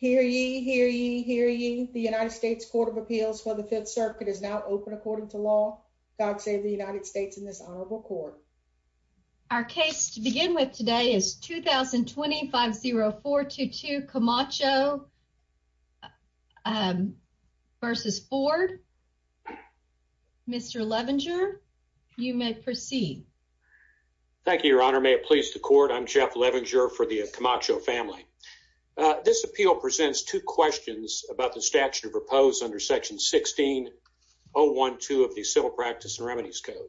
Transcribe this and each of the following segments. Hear ye, hear ye, hear ye. The United States Court of Appeals for the Fifth Circuit is now open. According to law, God save the United States in this honorable court. Our case to begin with today is 2000 250422 Camacho Um, versus Ford. Mr Levenger, you may proceed. Thank you, Your Honor. May it please the court. I'm Jeff Levenger for the Macho family. Uh, this appeal presents two questions about the statute of proposed under Section 16 012 of the Civil Practice and Remedies Code.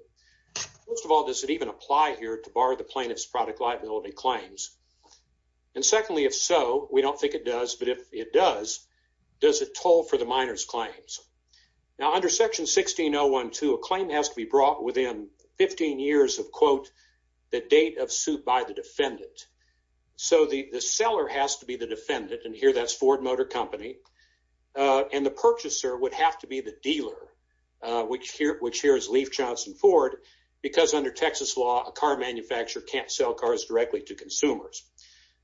Most of all, does it even apply here to bar the plaintiff's product liability claims? And secondly, if so, we don't think it does. But if it does, does it toll for the minor's claims? Now, under Section 16 012, a claim has to be the the seller has to be the defendant. And here that's Ford Motor Company on the purchaser would have to be the dealer, which here, which here is Leaf Johnson Ford, because under Texas law, a car manufacturer can't sell cars directly to consumers.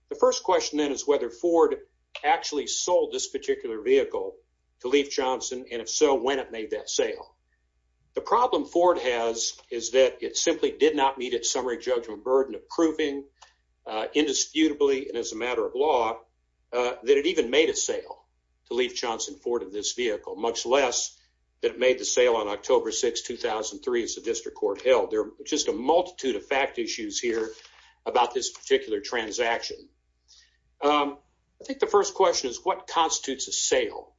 The first question, then, is whether Ford actually sold this particular vehicle to leave Johnson. And if so, when it made that sale, the problem Ford has is that it simply did not meet its summary judgment burden approving indisputably and as a matter of law that it even made a sale to leave Johnson Ford of this vehicle, much less that made the sale on October 6 2003 is the district court held there just a multitude of fact issues here about this particular transaction. Um, I think the first question is what constitutes a sale?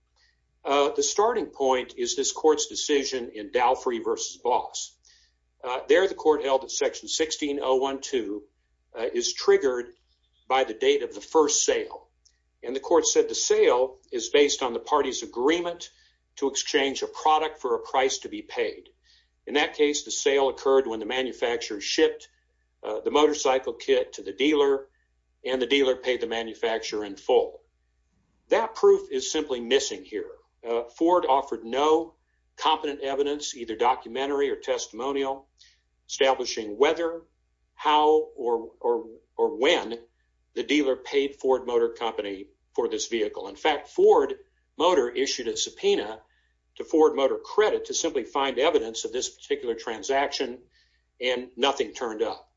Uh, the starting point is this court's vision in Dalfrey versus boss there. The court held that Section 16 012 is triggered by the date of the first sale, and the court said the sale is based on the party's agreement to exchange a product for a price to be paid. In that case, the sale occurred when the manufacturer shipped the motorcycle kit to the dealer, and the dealer paid the manufacturer in full. That proof is competent evidence, either documentary or testimonial, establishing whether how or or or when the dealer paid Ford Motor Company for this vehicle. In fact, Ford Motor issued a subpoena to Ford Motor Credit to simply find evidence of this particular transaction, and nothing turned up.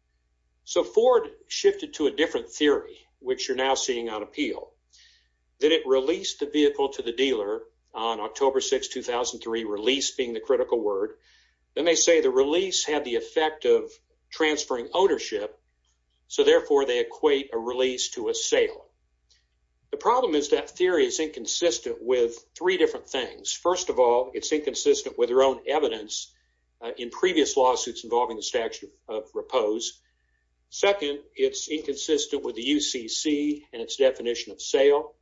So Ford shifted to a different theory, which you're now seeing on appeal that it released the 2003 release being the critical word. Then they say the release had the effect of transferring ownership, so therefore they equate a release to a sale. The problem is that theory is inconsistent with three different things. First of all, it's inconsistent with their own evidence in previous lawsuits involving the statute of repose. Second, it's inconsistent with the U. C. C. And its definition of sale.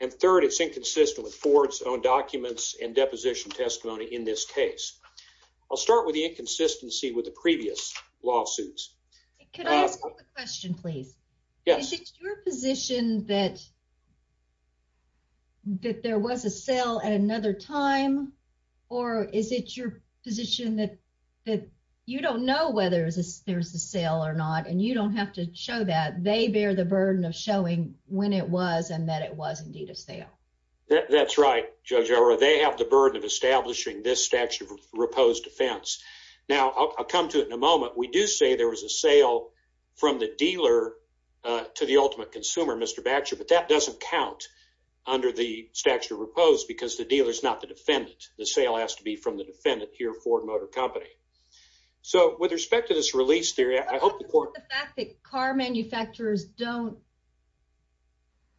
And third, it's inconsistent with Ford's own documents and deposition testimony. In this case, I'll start with the inconsistency with the previous lawsuits. Could I ask a question, please? Yes, it's your position that that there was a sale at another time. Or is it your position that that you don't know whether there's a there's a sale or not, and you don't have to show that they bear the burden of showing when it was and that it was indeed a that's right. Judge or they have the burden of establishing this statute of repose defense. Now I'll come to it in a moment. We do say there was a sale from the dealer to the ultimate consumer, Mr Batcher. But that doesn't count under the statute of repose because the dealer is not the defendant. The sale has to be from the defendant here. Ford Motor Company. So with respect to this release theory, I hope the fact that car manufacturers don't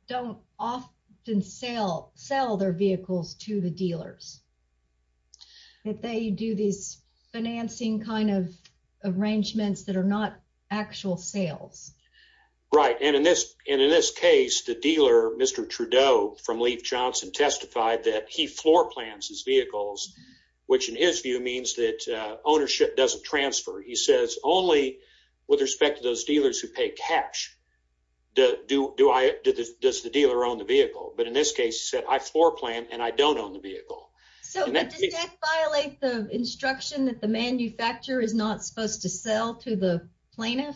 don't often sell, sell their vehicles to the dealers that they do these financing kind of arrangements that are not actual sales. Right. And in this and in this case, the dealer, Mr Trudeau from Leif Johnson, testified that he floor plans his vehicles, which, in his view, means that ownership doesn't transfer. He says only with respect to those dealers who pay cash. Do do I? Does the dealer on the vehicle? But in this case, said I floor plan and I don't own the vehicle. So that violates the instruction that the manufacturer is not supposed to sell to the plaintiff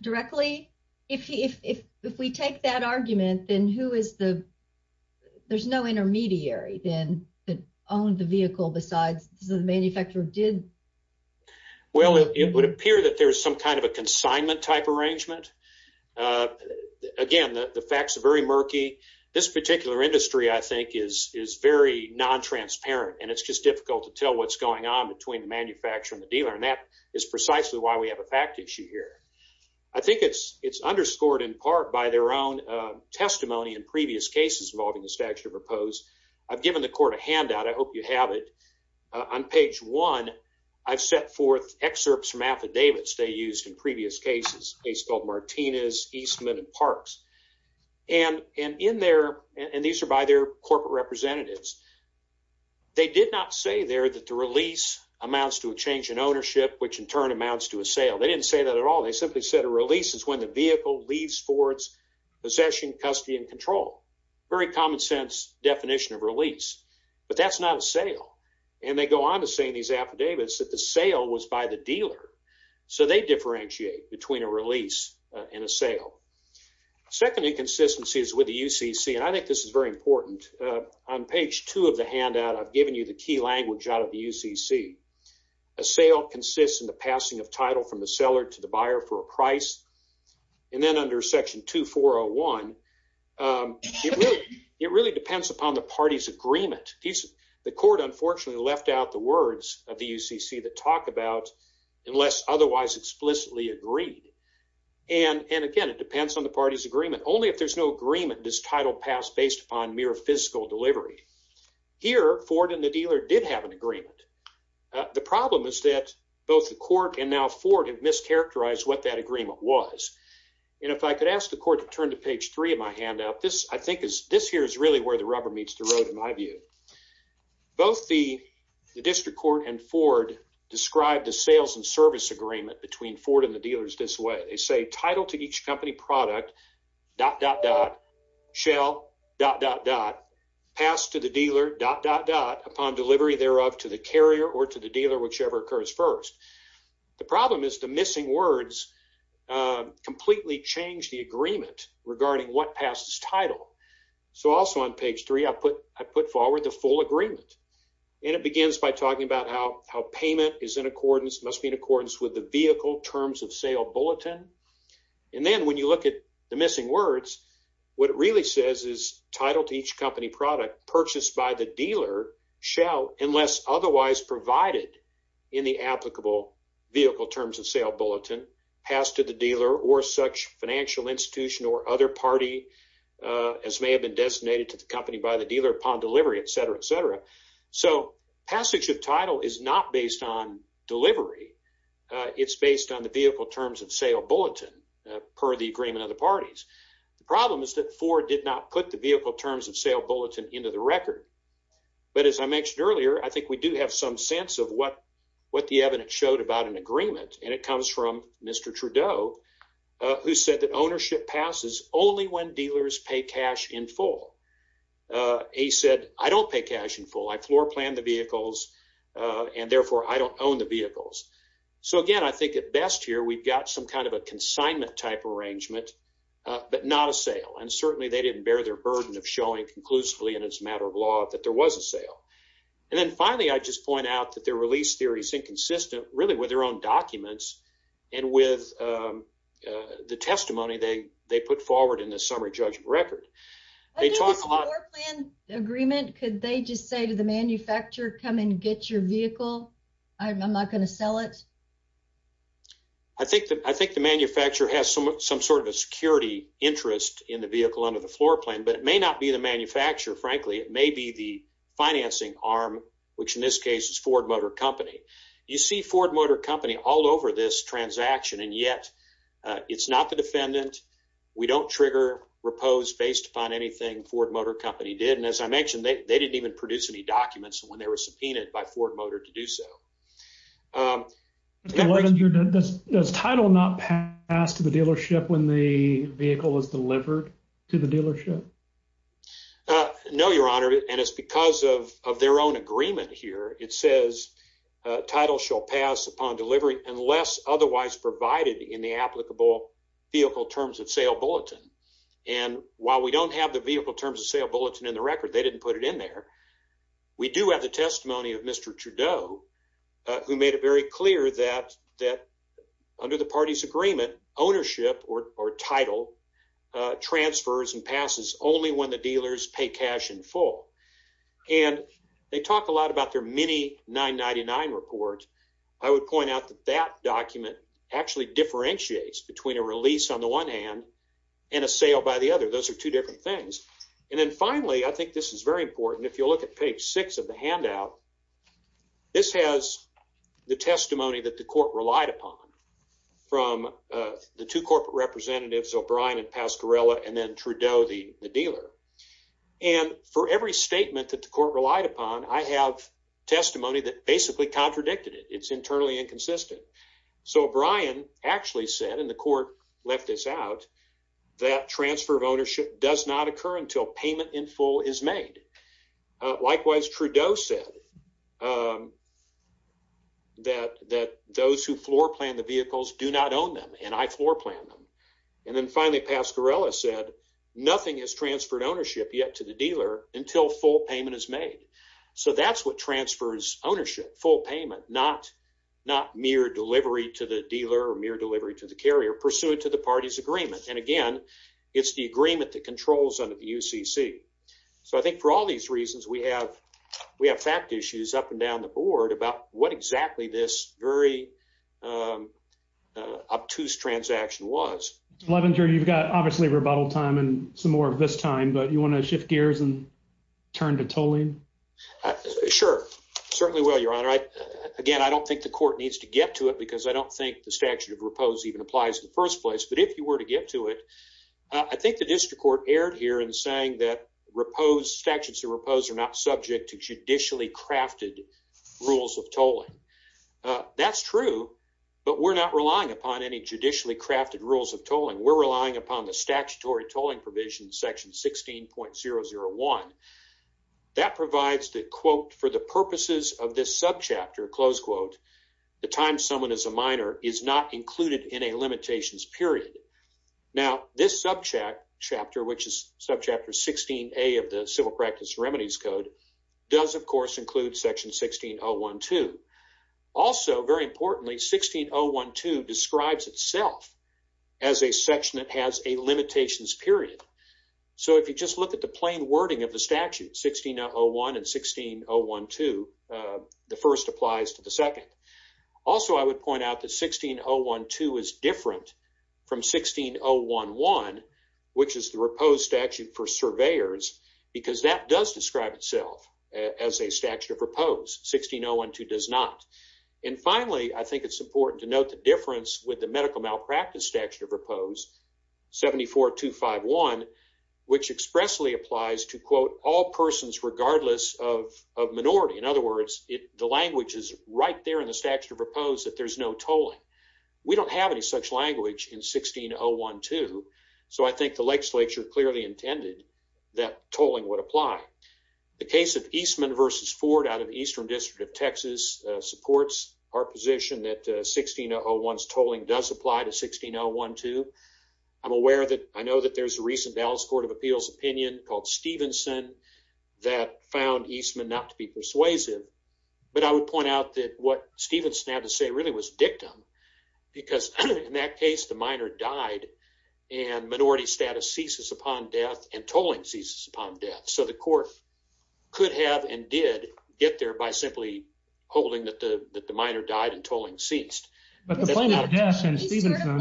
directly. If if if we take that argument, then who is the there's no intermediary then that owned the vehicle besides the manufacturer did? Well, it would appear that there's some kind of a consignment type arrangement. Uh, again, the facts are very murky. This particular industry, I think, is is very non transparent, and it's just difficult to tell what's going on between manufacturing the dealer. And that is precisely why we have a fact issue here. I think it's underscored in part by their own testimony in previous cases involving the statute of repose. I've given the court a handout. I hope you have it on page one. I've set forth excerpts from affidavits they used in previous cases based on Martinez, Eastman and Parks. And in there, and these are by their corporate representatives, they did not say there that the release amounts to a change in ownership, which in turn amounts to a sale. They didn't say that at all. They simply said a release is when the vehicle leaves for its possession, custody and control. Very common sense definition of release. But that's not a sale. And they go on to saying these affidavits that the sale was by the dealer. So they differentiate between a release in a sale. Second inconsistencies with the U. C. C. And I think this is very important. On page two of the handout, I've given you the key language out of the U. C. C. A sale consists in the passing of title from the seller to the buyer for a price. And then under Section 2401, um, it really depends upon the party's agreement. The court unfortunately left out the words of the U. C. C. That talk about unless otherwise explicitly agreed. And again, it depends on the party's agreement. Only if there's no agreement, this title passed based upon mere physical delivery. Here, Ford and the dealer did have an agreement. The problem is that both the court and now Ford have mischaracterized what that agreement was. And if I could ask the this here is really where the rubber meets the road. In my view, both the district court and Ford described the sales and service agreement between Ford and the dealers this way. They say title to each company product dot dot dot shell dot dot dot passed to the dealer dot dot dot upon delivery thereof to the carrier or to the dealer, whichever occurs first. The problem is the missing words, um, completely changed the agreement regarding what passes title. So also on page three, I put I put forward the full agreement, and it begins by talking about how how payment is in accordance must be in accordance with the vehicle terms of sale bulletin. And then when you look at the missing words, what it really says is title to each company product purchased by the dealer shall unless otherwise provided in the applicable vehicle terms of sale bulletin passed to the dealer or such financial institution or other party, uh, as may have been designated to the company by the dealer upon delivery, etcetera, etcetera. So passage of title is not based on delivery. It's based on the vehicle terms of sale bulletin per the agreement of the parties. The problem is that four did not put the vehicle terms of sale bulletin into the record. But as I mentioned earlier, I think we do have some sense of what what the evidence showed about an agreement, and he said that ownership passes only when dealers pay cash in full. Uh, he said, I don't pay cash in full. I floor plan the vehicles on. Therefore, I don't own the vehicles. So again, I think it best here. We've got some kind of a consignment type arrangement, but not a sale. And certainly they didn't bear their burden of showing conclusively, and it's a matter of law that there was a sale. And then finally, I just point out that their release theories inconsistent really with their own documents and with, uh, the testimony they they put forward in the summary judgment record. They talk a lot in agreement. Could they just say to the manufacturer? Come and get your vehicle. I'm not gonna sell it. I think that I think the manufacturer has some some sort of a security interest in the vehicle under the floor plan, but it may not be the manufacturer. Frankly, it may be the financing arm, which in this case is Ford Motor Company. You see Ford Motor Company all over this transaction, and yet it's not the defendant. We don't trigger repose based upon anything. Ford Motor Company did. And as I mentioned, they didn't even produce any documents when they were subpoenaed by Ford Motor to do so. Um, what does title not pass to the dealership when the vehicle was delivered to the dealership? Uh, no, Your Honor. And it's because of their own agreement here. It says title shall pass upon delivery unless otherwise provided in the applicable vehicle terms of sale bulletin. And while we don't have the vehicle terms of sale bulletin in the record, they didn't put it in there. We do have the testimony of Mr Trudeau, who made it very clear that that under the party's only when the dealers pay cash in full. And they talk a lot about their mini 999 report. I would point out that that document actually differentiates between a release on the one hand and a sale by the other. Those are two different things. And then, finally, I think this is very important. If you look at page six of the handout, this has the testimony that the court relied upon from the two corporate representatives, O'Brien and Pasquarella and then Trudeau, the dealer. And for every statement that the court relied upon, I have testimony that basically contradicted it. It's internally inconsistent. So O'Brien actually said in the court left this out. That transfer of ownership does not occur until payment in full is made. Likewise, Trudeau said, um, that that those who floor plan the vehicles do not own them, and I floor plan them. And then finally, Pasquarella said nothing has transferred ownership yet to the dealer until full payment is made. So that's what transfers ownership. Full payment, not not mere delivery to the dealer or mere delivery to the carrier pursued to the party's agreement. And again, it's the agreement that controls under the U. C. C. So I think for all these reasons we have, we have fact issues up and down the board about what exactly this very, um, obtuse transaction was. Levenger, you've got obviously rebuttal time and some more of this time, but you want to shift gears and turn to tolling? Sure. Certainly. Well, Your Honor, again, I don't think the court needs to get to it because I don't think the statute of repose even applies in the first place. But if you were to get to it, I think the district court erred here in saying that repose statutes of repose are not subject to that's true, but we're not relying upon any judicially crafted rules of tolling. We're relying upon the statutory tolling provision section 16.001. That provides the quote for the purposes of this sub chapter. Close quote. The time someone is a minor is not included in a limitations period. Now, this subject chapter, which is subject to 16 A of the civil practice remedies code, does, of section 16.012. Also, very importantly, 16.012 describes itself as a section that has a limitations period. So if you just look at the plain wording of the statute 16.01 and 16.012, the first applies to the second. Also, I would point out that 16.012 is different from 16.011, which is the repose statute for 16.012 does not. And finally, I think it's important to note the difference with the medical malpractice statute of repose 74 to 51, which expressly applies to quote all persons regardless of minority. In other words, the language is right there in the statute of repose that there's no tolling. We don't have any such language in 16.012. So I think the lakes lecture clearly intended that tolling would apply. The case of Eastman versus Ford out of Eastern District of Texas supports our position that 16.011 tolling does apply to 16.012. I'm aware that I know that there's a recent Dallas Court of Appeals opinion called Stevenson that found Eastman not to be persuasive. But I would point out that what Stevenson had to say really was dictum because in that case, the minor died and minority status ceases upon death and tolling ceases upon death. So the court could have and did get there by simply holding that the minor died and tolling ceased. But the point of death and Stevenson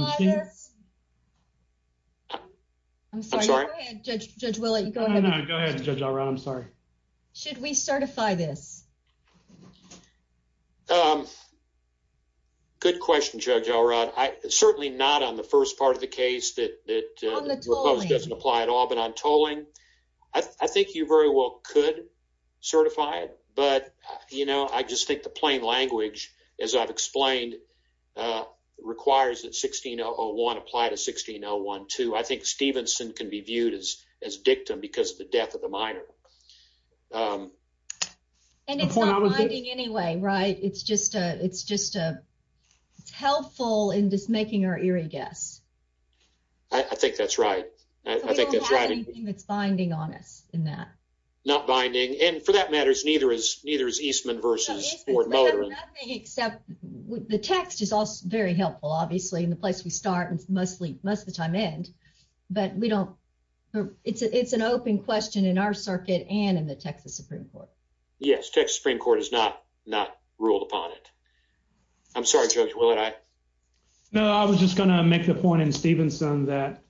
I'm sorry, Judge Willie. Go ahead. Go ahead, Judge. I'm sorry. Should we certify this? Um, good question, Judge. All right. I certainly not on the first part of the case that that doesn't apply at all. But on tolling, I think you very well could certify it. But, you know, I just think the plain language, as I've explained, uh, requires that 16.01 apply to 16.012. I think Stevenson can be viewed as as dictum because the death of the minor, um, and it's not binding anyway, right? It's just a it's just a helpful in just making our eerie guess. I think that's right. I think that's right. It's binding on us in that not binding. And for that matters, neither is neither is Eastman versus Fort Motor. Except the text is also very helpful, obviously, in the place we start and mostly most the time end. But we don't. It's a It's an open question in our circuit and in the Texas Supreme Court. Yes, Texas Supreme Court is not not ruled upon it. I'm sorry, George. Will it? I know I was just gonna make the point in Stevenson that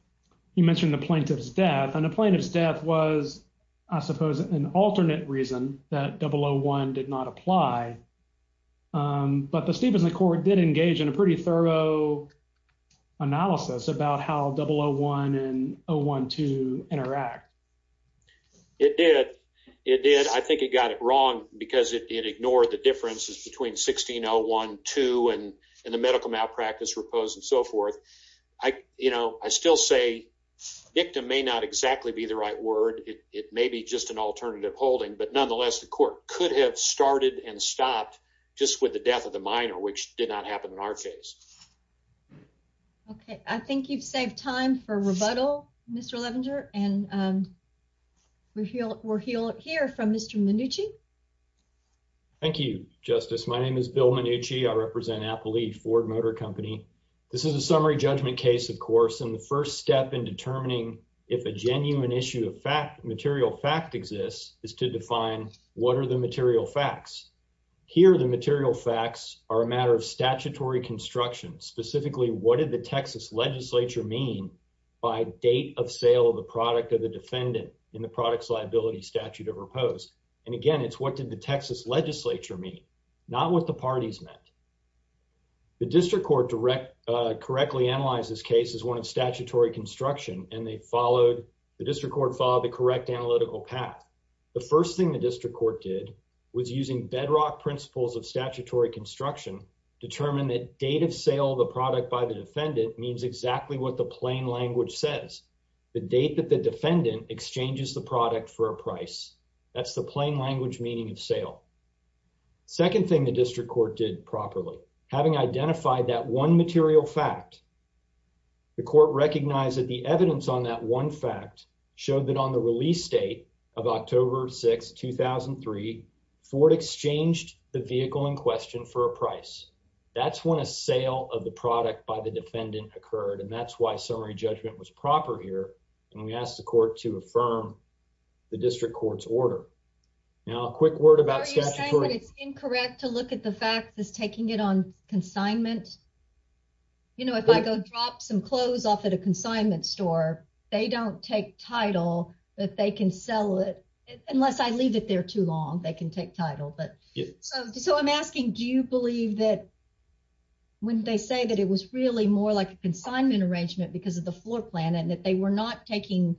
you mentioned the plaintiff's death on the plaintiff's death was, I suppose, an alternate reason that double a one did not apply. Um, but the Stevenson court did engage in a pretty thorough analysis about how double a one and a one to interact. It did. It did. I think it got it wrong because it ignored the differences between 16 oh 12 and in the medical malpractice repose and so forth. I, you know, I still say victim may not exactly be the right word. It may be just an alternative holding. But nonetheless, the court could have started and stopped just with the death of the minor, which did not happen in our case. Okay. I think you've saved time for rebuttal, Mr. Levenger and, um, we're here. We're here here from Mr Manucci. Thank you, Justice. My name is Bill Manucci. I represent Apple Leaf Ford Motor Company. This is a summary judgment case, of course, and the first step in determining if a genuine issue of fact material fact exists is to define what are the material facts here. The material facts are a matter of specifically, what did the Texas Legislature mean by date of sale of the product of the defendant in the products liability statute of repose? And again, it's what did the Texas Legislature mean? Not what the parties meant. The district court direct correctly analyze this case is one of statutory construction, and they followed the district court followed the correct analytical path. The first thing the district court did was using bedrock principles of statutory construction determined that date of sale of the product by the defendant means exactly what the plain language says. The date that the defendant exchanges the product for a price. That's the plain language meaning of sale. Second thing the district court did properly, having identified that one material fact, the court recognized that the evidence on that one fact showed that on the vehicle in question for a price. That's when a sale of the product by the defendant occurred, and that's why summary judgment was proper here. And we asked the court to affirm the district court's order. Now, a quick word about statutory. It's incorrect to look at the fact is taking it on consignment. You know, if I go drop some clothes off at a consignment store, they don't take title that they can sell it unless I leave it there too long. They can take title. But so I'm asking, do you believe that when they say that it was really more like consignment arrangement because of the floor plan and that they were not taking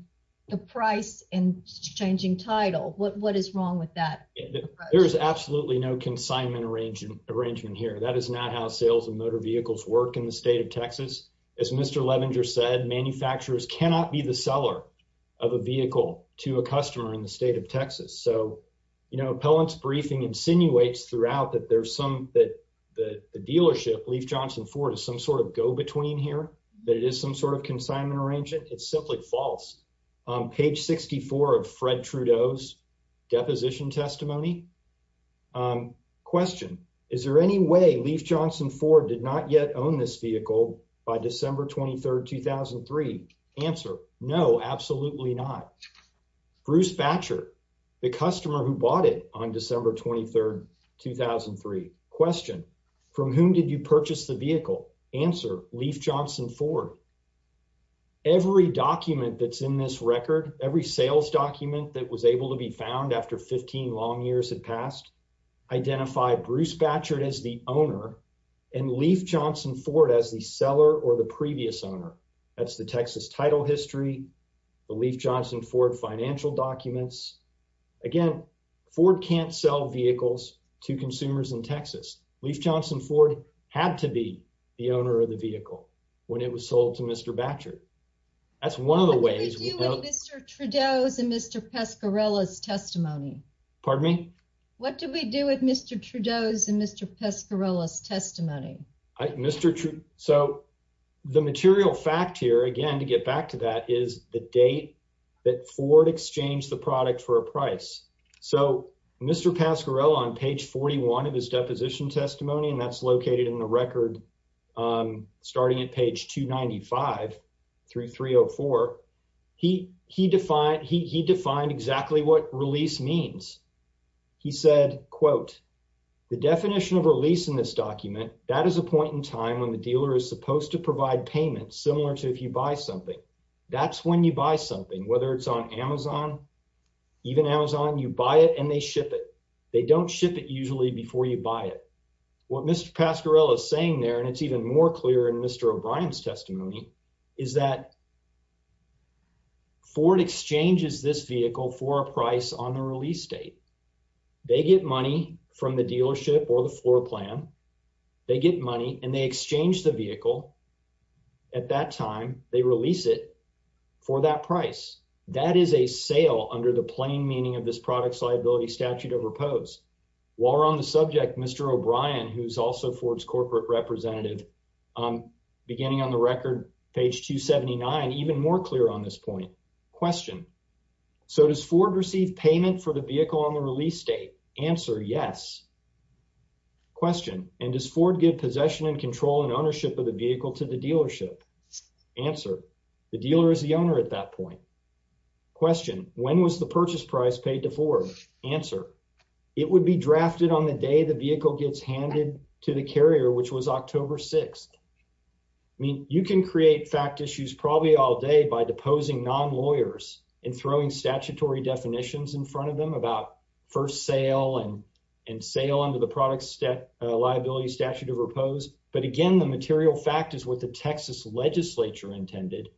the price and changing title? What? What is wrong with that? There is absolutely no consignment arrangement arrangement here. That is not how sales and motor vehicles work in the state of Texas. As Mr Levenger said, manufacturers cannot be the seller of a vehicle. No one's briefing insinuates throughout that there's some that the dealership, Leif Johnson Ford, is some sort of go between here that it is some sort of consignment arrangement. It's simply false. Page 64 of Fred Trudeau's deposition testimony. Question. Is there any way Leif Johnson Ford did not yet own this vehicle by December 23rd 2003 answer? No, absolutely not. Bruce Batcher, the owner of Leif Johnson Ford, did not own this vehicle by December 23rd 2003 question. From whom did you purchase the vehicle? Answer. Leif Johnson Ford. Every document that's in this record, every sales document that was able to be found after 15 long years had passed. Identify Bruce Batchard as the owner and Leif Johnson Ford as the seller or the previous owner. That's the Texas title history. The Leif Johnson Ford financial documents again. Ford can't sell vehicles to consumers in Texas. Leif Johnson Ford had to be the owner of the vehicle when it was sold to Mr Batcher. That's one of the ways Mr Trudeau's and Mr Pescarella's testimony. Pardon me? What do we do with Mr Trudeau's and Mr Pescarella's testimony, Mr? So the material fact here again to get back to that is the date that Ford exchanged the product for a price. So Mr Pascarella on page 41 of his deposition testimony, and that's located in the record. Um, starting at page 2 95 through 304, he he defined he defined exactly what release means. He said, quote, the definition of release in this document. That is a point in time when the dealer is supposed to something. That's when you buy something, whether it's on Amazon, even Amazon, you buy it and they ship it. They don't ship it usually before you buy it. What Mr Pascarella is saying there, and it's even more clear in Mr O'Brien's testimony, is that Ford exchanges this vehicle for a price on the release date. They get money from the dealership or the floor plan. They get money and they exchange the time they release it for that price. That is a sale under the plain meaning of this product's liability statute of repose. While we're on the subject, Mr O'Brien, who's also Ford's corporate representative, um, beginning on the record page 2 79 even more clear on this point question. So does Ford receive payment for the vehicle on the release date? Answer? Yes. Question. And does Ford give possession and control and ownership of the vehicle to the dealership? Answer. The dealer is the owner at that point. Question. When was the purchase price paid to Ford? Answer. It would be drafted on the day the vehicle gets handed to the carrier, which was October 6th. I mean, you can create fact issues probably all day by deposing non lawyers and throwing statutory definitions in front of them about first sale and and sale under the product's liability statute of repose. But again, the material fact is what the Texas Legislature intended,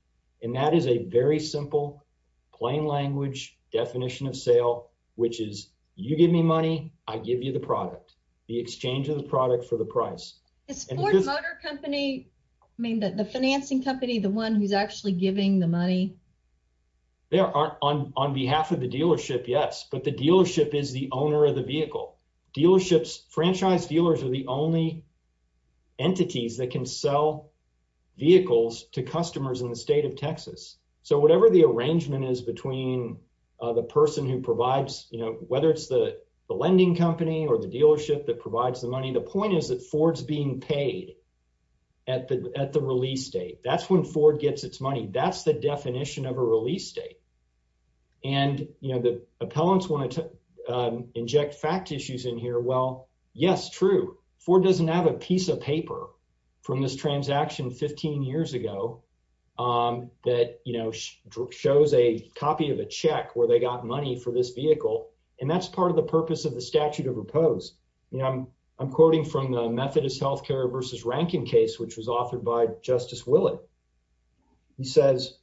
and that is a very simple, plain language definition of sale, which is you give me money. I give you the product. The exchange of the product for the price is Ford Motor Company. I mean, the financing company, the one who's actually giving the money there are on behalf of the dealership. Yes, but the dealership is the owner of the vehicle dealerships. Franchise dealers are the only entities that can sell vehicles to customers in the state of Texas. So whatever the arrangement is between the person who provides, you know, whether it's the lending company or the dealership that provides the money, the point is that Ford's being paid at the at the release date. That's when Ford gets its money. That's the definition of a release date. And, you know, the fact issues in here. Well, yes, true. Ford doesn't have a piece of paper from this transaction 15 years ago that, you know, shows a copy of a check where they got money for this vehicle. And that's part of the purpose of the statute of repose. You know, I'm quoting from the Methodist Healthcare versus Rankin case, which was authored by Justice Willett. He says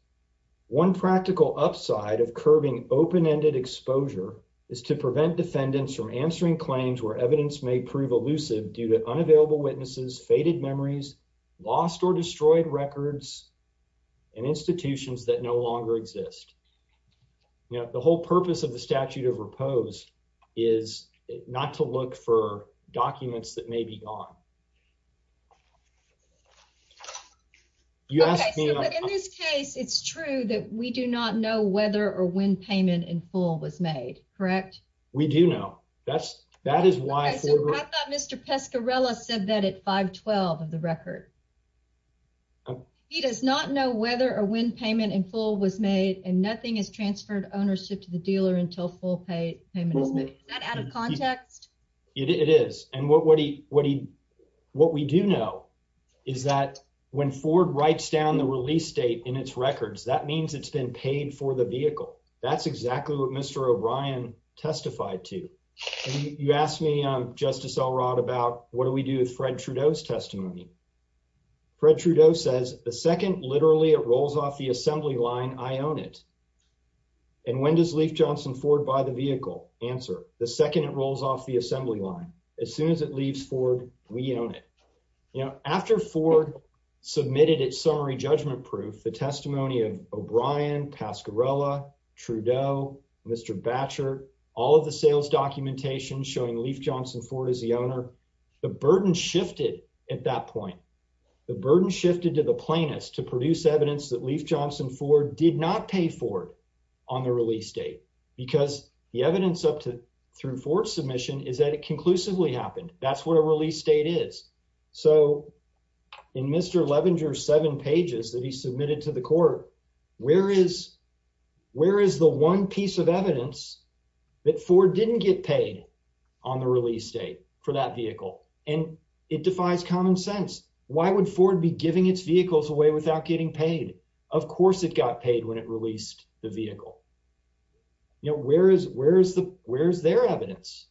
one practical upside of curving open ended exposure is to prevent defendants from answering claims where evidence may prove elusive due to unavailable witnesses, faded memories, lost or destroyed records and institutions that no longer exist. You know, the whole purpose of the statute of repose is not to look for documents that may be gone. You ask me in this case, it's true that we do not know whether or when payment in full was made. Correct. We do know that's that is why Mr. Pescarella said that at 5 12 of the record. He does not know whether or when payment in full was made, and nothing has transferred ownership to the dealer until full pay payment is made out of context. It is. And what what he what he what we do know is that when Ford writes down the release date in its records, that means it's been paid for the vehicle. That's exactly what Mr. O'Brien testified to. You asked me Justice Elrod about what do we do with Fred Trudeau's testimony? Fred Trudeau says the second. Literally, it rolls off the assembly line. I own it. And when does Leaf Johnson Ford by the vehicle answer the second it rolls off the assembly line as soon as it leaves Ford? We own it. You know, after Ford submitted its summary judgment proof, the testimony of O'Brien, Pascarella, Trudeau, Mr. Batcher, all of the sales documentation showing Leaf Johnson Ford is the owner. The burden shifted at that point. The burden shifted to the plaintiffs to produce evidence that Leaf Johnson Ford did not pay Ford on the release date because the evidence up to through Ford submission is that it Mr. Levenger seven pages that he submitted to the court. Where is where is the one piece of evidence that Ford didn't get paid on the release date for that vehicle? And it defies common sense. Why would Ford be giving its vehicles away without getting paid? Of course it got paid when it released the vehicle. You know, where is where is the where is their evidence?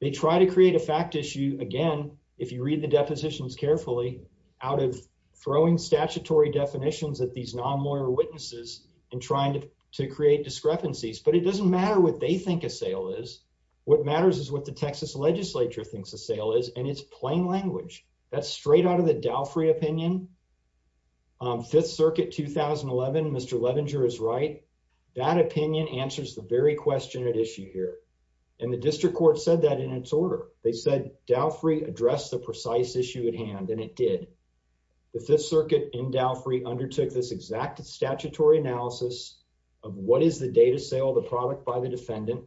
They try to create a fact issue again. If you read the depositions carefully out of throwing statutory definitions that these non lawyer witnesses and trying to create discrepancies, but it doesn't matter what they think a sale is. What matters is what the Texas Legislature thinks a sale is, and it's plain language that's straight out of the Dow Free opinion. Fifth Circuit 2011. Mr Levenger is right. That opinion answers the very said Dow Free address the precise issue at hand, and it did. The Fifth Circuit in Dow Free undertook this exact statutory analysis of what is the data sale of the product by the defendant.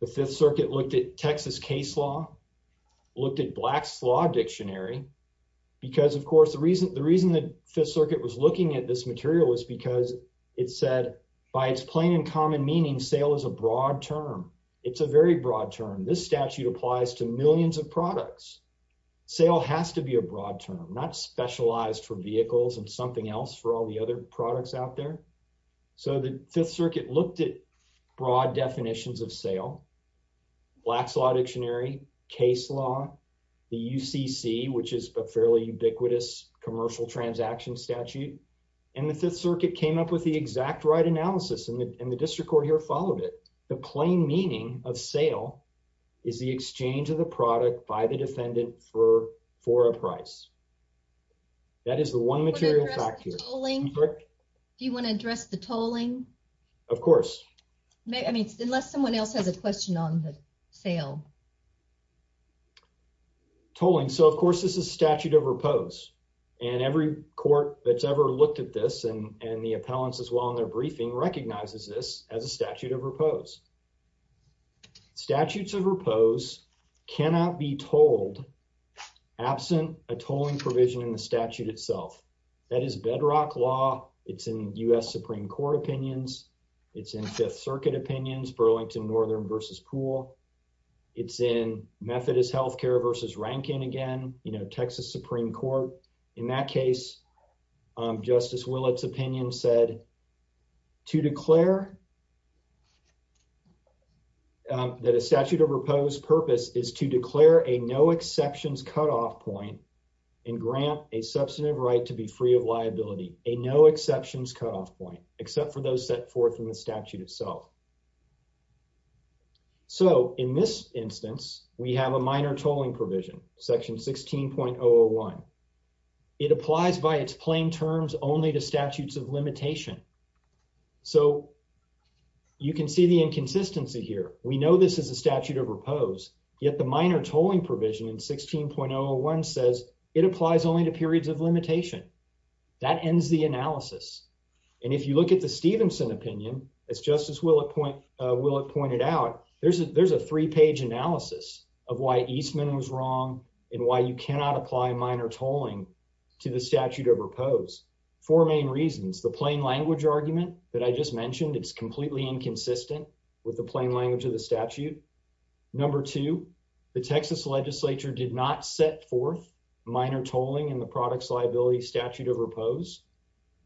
The Fifth Circuit looked at Texas case law, looked at Black's Law Dictionary because, of course, the reason the reason that Fifth Circuit was looking at this material is because it said by its plain and common meaning, sale is a very broad term. This statute applies to millions of products. Sale has to be a broad term, not specialized for vehicles and something else for all the other products out there. So the Fifth Circuit looked it broad definitions of sale. Black's Law Dictionary case law, the UCC, which is a fairly ubiquitous commercial transaction statute, and the Fifth Circuit came up with the exact right analysis and the district court here followed it. The plain meaning of sale is the exchange of the product by the defendant for for a price. That is the one material factor. Do you want to address the tolling? Of course. I mean, unless someone else has a question on the sale. Tolling. So, of course, this is statute of repose, and every court that's ever looked at this and the appellants as well in their briefing recognizes this as a statute of repose. Statutes of repose cannot be told absent a tolling provision in the statute itself. That is bedrock law. It's in U. S. Supreme Court opinions. It's in Fifth Circuit opinions. Burlington Northern versus Pool. It's in Methodist Healthcare versus Rankin again. You know, Texas Supreme Court. In that case, Justice Willett's opinion said to declare that a statute of repose purpose is to declare a no exceptions cut off point and grant a substantive right to be free of liability. A no exceptions cut off point except for those set forth in the statute itself. So in this instance, we have a minor tolling provision section 16.01. It applies by its plain terms only to statutes of limitation. So you can see the inconsistency here. We know this is a statute of repose. Yet the minor tolling provision in 16.01 says it applies only to periods of limitation. That ends the analysis. And if you look at the Stevenson opinion, it's Justice Willett point Willett pointed out there's a there's a three page analysis of why Eastman was wrong and why you cannot apply minor tolling to the statute of repose. Four main reasons. The plain language argument that I just mentioned. It's completely inconsistent with the plain language of the statute. Number two, the Texas Legislature did not set forth minor tolling in the products liability statute of repose,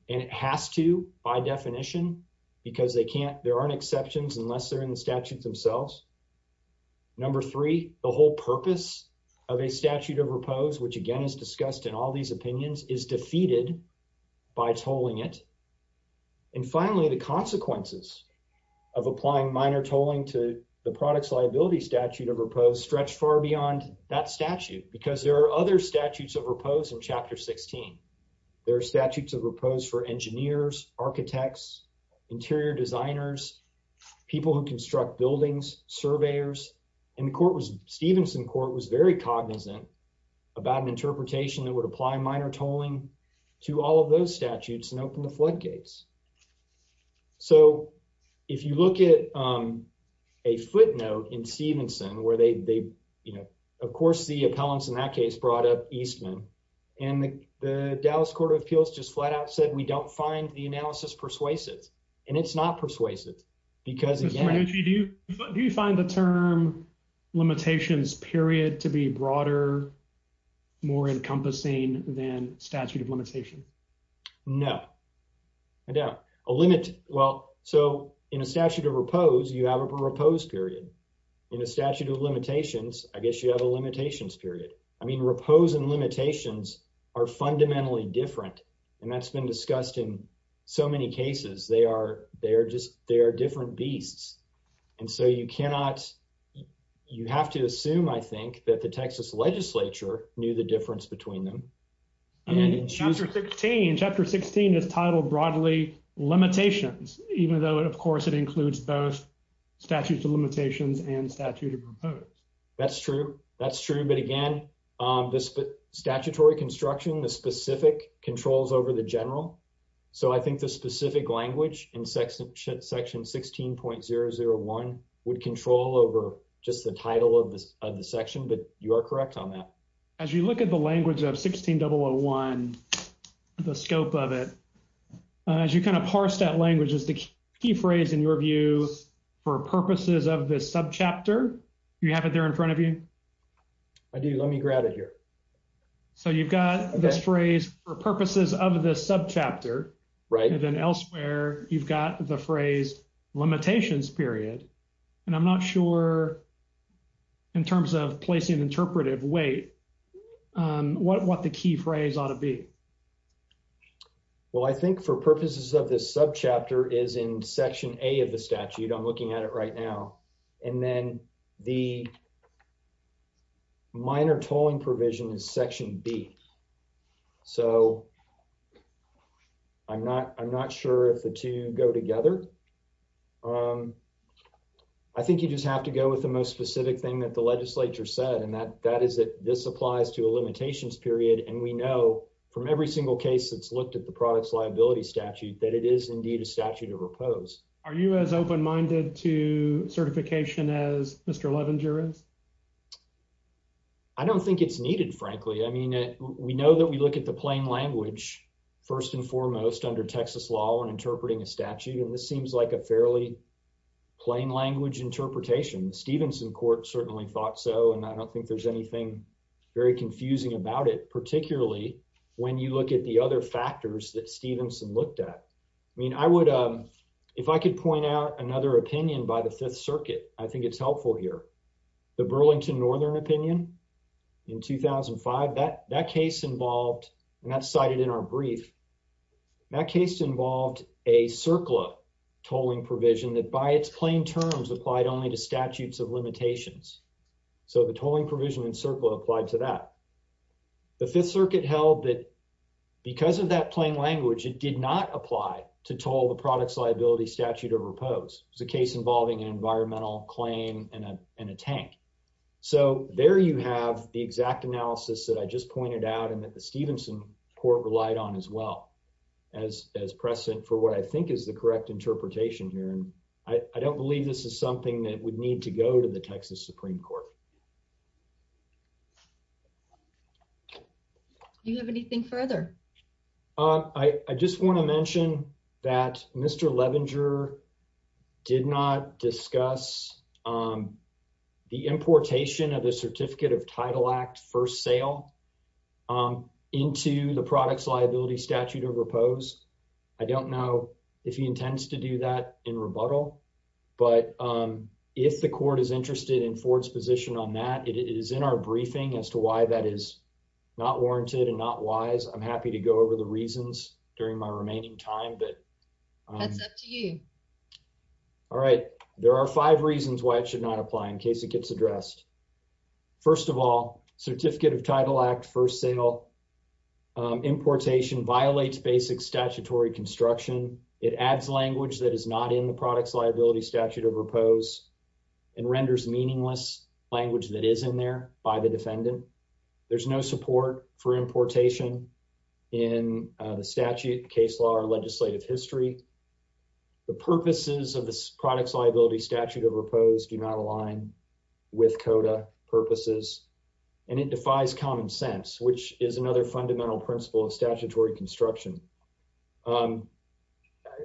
and it has to by definition because they can't. There aren't exceptions unless they're in the statutes themselves. Number three, the whole purpose of a statute of repose, which again is discussed in all these opinions, is defeated by tolling it. And finally, the consequences of applying minor tolling to the products liability statute of repose stretch far beyond that statute because there are other statutes of repose in Chapter 16. There are statutes of repose for engineers, architects, interior designers, people who construct buildings, surveyors and court was Stevenson Court was very cognizant about an interpretation that would apply minor tolling to all of those statutes and open the floodgates. So if you look it, um, a footnote in Stevenson where they, you know, of course, the appellants in that case brought up Eastman and the Dallas Court of Appeals just flat out said we don't find the analysis persuasive and it's not persuasive because do you find the term limitations period to be broader, more encompassing than statute of limitation? No, I doubt a limit. Well, so in a statute of repose, you have a proposed period in a statute of limitations. I guess you have a limitations period. I mean, repose and limitations are fundamentally different, and that's been discussed in so many cases. They are. They're just they're different beasts. And so you cannot you have to assume, I think that the Texas Legislature knew the difference between them. And in Chapter 16 Chapter 16 is titled broadly limitations, even though it, of course, it includes both statutes of limitations and statute of repose. That's true. That's true. But again, the statutory construction, the specific controls over the general. So I think the specific language in section section 16.001 would control over just the title of the section. But you are correct on that. As you look at the language of 16 double one, the scope of it as you kind of parse that language is the key phrase in your view for purposes of this sub chapter. You have it there in front of you. I do. Let me grab it here. So you've got this phrase for purposes of this sub chapter, right? And then elsewhere, you've got the phrase limitations period. And I'm not sure in terms of placing interpretive weight what what the key phrase ought to be. Well, I think for purposes of this sub chapter is in Section A of the statute. I'm looking at it right now. And then the minor tolling provision is Section B. So I'm not I'm not sure if the two go together. Um, I think you just have to go with the most specific thing that the Legislature said, and that that is that this applies to a limitations period. And we know from every single case that's looked at the products liability statute that it is indeed a to repose. Are you as open minded to certification as Mr Levenger is? I don't think it's needed, frankly. I mean, we know that we look at the plain language first and foremost under Texas law and interpreting a statute, and this seems like a fairly plain language interpretation. The Stevenson court certainly thought so, and I don't think there's anything very confusing about it, particularly when you look at the other factors that Stevenson looked at. I mean, I would, um, if I could point out another opinion by the Fifth Circuit, I think it's helpful here. The Burlington Northern opinion in 2005 that that case involved, and that's cited in our brief. That case involved a circular tolling provision that by its plain terms applied only to statutes of limitations. So the tolling provision in circle applied to that the Fifth Circuit held that because of that plain language, it did not apply to toll the products liability statute of repose. It's a case involving environmental claim and a tank. So there you have the exact analysis that I just pointed out and that the Stevenson court relied on as well as precedent for what I think is the correct interpretation here. And I don't believe this is something that would need to go to the Texas Supreme Court. Do you have anything further? Uh, I just want to mention that Mr Levenger did not discuss, um, the importation of the Certificate of Title Act first sale, um, into the products liability statute of repose. I don't know if he intends to do that in rebuttal. But, um, if the court is interested in Ford's position on that, it is in our briefing as to why that is not warranted and not wise. I'm happy to go over the reasons during my remaining time. But that's up to you. All right. There are five reasons why it should not apply in case it gets addressed. First of all, Certificate of Title Act first sale importation violates basic statutory construction. It adds language that is not in the language that is in there by the defendant. There's no support for importation in the statute, case law or legislative history. The purposes of this products liability statute of repose do not align with coda purposes, and it defies common sense, which is another fundamental principle of statutory construction. Um,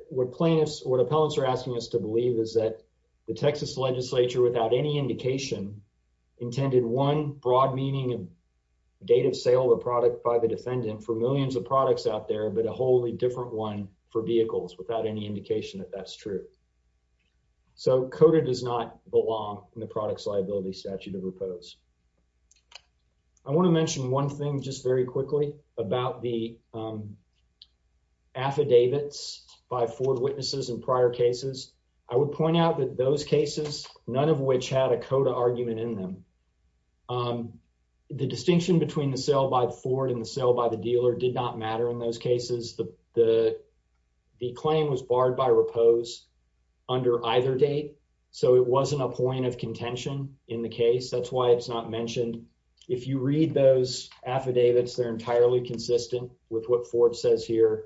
what plaintiffs or appellants are asking us to believe is that the Texas Legislature, without any indication, intended one broad meaning of date of sale of product by the defendant for millions of products out there, but a wholly different one for vehicles without any indication that that's true. So coda does not belong in the products liability statute of repose. I want to mention one thing just very quickly about the, um, affidavits by Ford witnesses in prior cases. I would point out that those cases, none of which had a coda argument in them. Um, the distinction between the sale by the Ford in the sale by the dealer did not matter. In those cases, the the claim was barred by repose under either date, so it wasn't a point of contention in the case. That's why it's not mentioned. If you read those affidavits, they're entirely consistent with what Ford says here.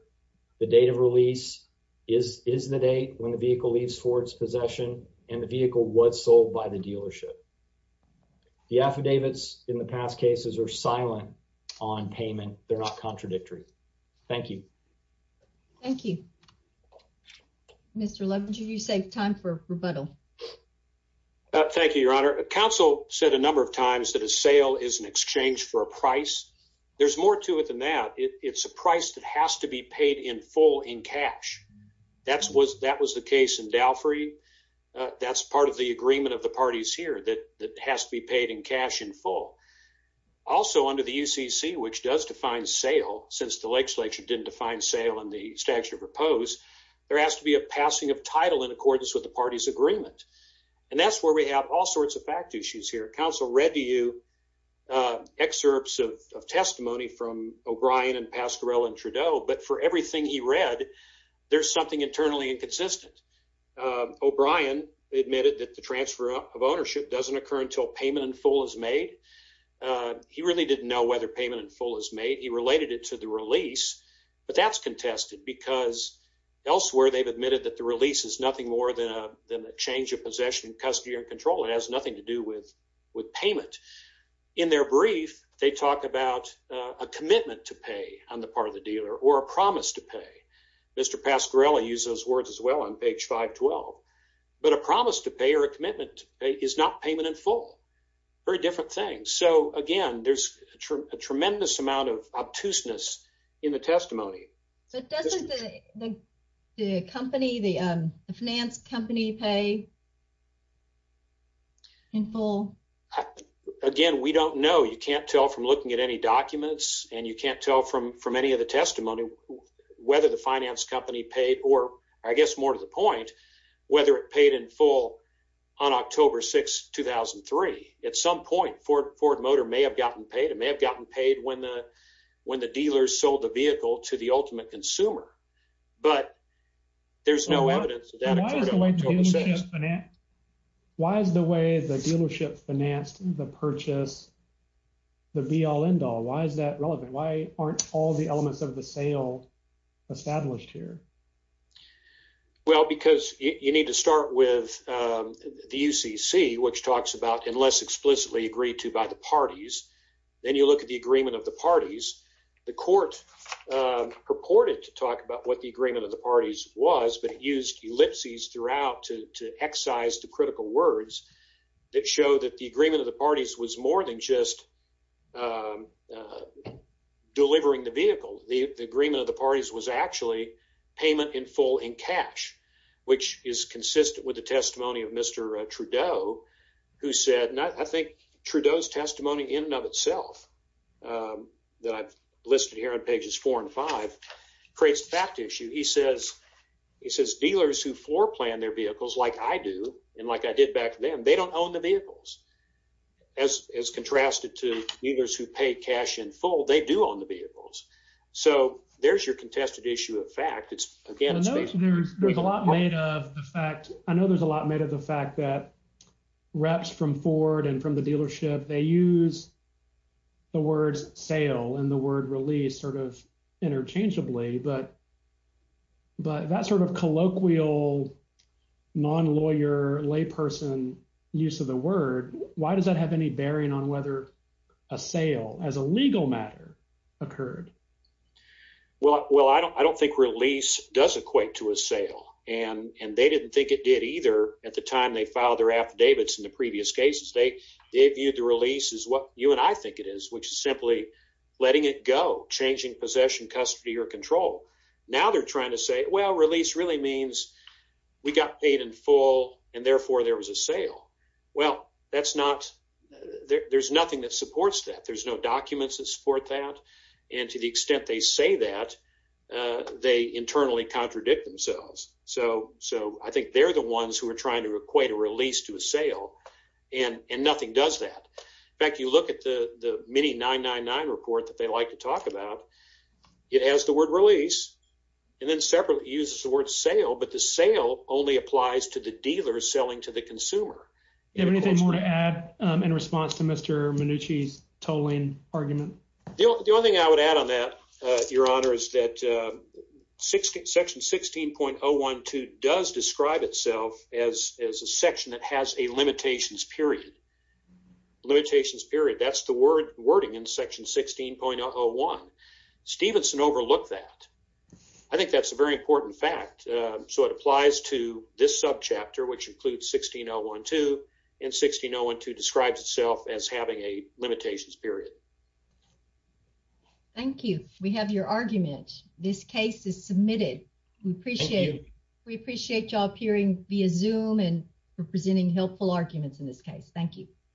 The date of lease is isn't the date when the vehicle leaves Ford's possession and the vehicle was sold by the dealership. The affidavits in the past cases were silent on payment. They're not contradictory. Thank you. Thank you, Mr. Love. Would you save time for rebuttal? Thank you, Your Honor. Council said a number of times that a sale is an exchange for a price. There's more to it than that. It's a price that has to be paid in full in cash. That's what that was the case in Dalfrey. That's part of the agreement of the parties here that that has to be paid in cash in full. Also, under the U. C. C, which does define sale since the legislature didn't define sale in the statute of repose, there has to be a passing of title in accordance with the party's agreement. And that's where we have all sorts of fact issues here. Council read to you, uh, excerpts of Haskell and Trudeau. But for everything he read, there's something internally inconsistent. Um, O'Brien admitted that the transfer of ownership doesn't occur until payment in full is made. Uh, he really didn't know whether payment in full is made. He related it to the release, but that's contested because elsewhere they've admitted that the release is nothing more than a change of possession, custody or control. It has nothing to do with on the part of the dealer or a promise to pay. Mr Pascarelli uses words as well on page 5 12. But a promise to pay or a commitment is not payment in full. Very different things. So again, there's a tremendous amount of obtuseness in the testimony. But doesn't the company, the finance company pay in full again? We don't know. You can't tell from looking at any documents and you can't tell from from any of the testimony whether the finance company paid or I guess more to the point whether it paid in full on October 6 2003. At some point, Ford Ford Motor may have gotten paid. It may have gotten paid when the when the dealers sold the vehicle to the ultimate consumer. But there's no evidence of that. Why is the way the dealership financed the purchase the be all end all? Why is that relevant? Why aren't all the elements of the sale established here? Well, because you need to start with the U. C. C. Which talks about unless explicitly agreed to by the parties, then you look at the agreement of the parties. The court purported to talk about what the agreement of the parties was, but it used ellipses throughout to excise the critical words that show that the agreement of the parties was more than just, um, uh, delivering the vehicle. The agreement of the parties was actually payment in full in cash, which is consistent with the testimony of Mr Trudeau, who said nothing. Trudeau's testimony in and of itself, um, that I've listed here on pages four and five creates fact issue, he says. He says dealers who floor plan their vehicles as as contrasted to dealers who pay cash in full they do on the vehicles. So there's your contested issue of fact it's again. There's a lot made of the fact I know there's a lot made of the fact that reps from Ford and from the dealership, they use the words sale and the word release sort of interchangeably. But but that sort of colloquial non lawyer lay person use of the word. Why does that have any bearing on whether a sale as a legal matter occurred? Well, well, I don't I don't think release does equate to a sale, and they didn't think it did either. At the time they filed their affidavits in the previous cases, they they viewed the release is what you and I think it is, which is simply letting it go, changing possession, custody or control. Now they're trying to say, Well, release really means we got paid in full, and therefore there was a sale. Well, that's not there. There's nothing that supports that. There's no documents that support that. And to the extent they say that they internally contradict themselves. So so I think they're the ones who are trying to equate a release to a sale, and nothing does that. In fact, you look at the many 999 report that they like to talk about. It has the word release and then separately uses the word sale. But the sale only applies to the dealers selling to the consumer. You have anything more to add in response to Mr Manucci's tolling argument? The only thing I would add on that, Your Honor, is that, uh, 60 section 16.012 does describe itself as as a section that has a limitations. Period. Limitations. Period. That's the word wording in Section 16.01. Stevenson overlooked that. I think applies to this sub chapter, which includes 16.012 and 16.012 describes itself as having a limitations. Period. Thank you. We have your argument. This case is submitted. We appreciate. We appreciate your appearing via zoom and representing helpful arguments in this case. Thank you.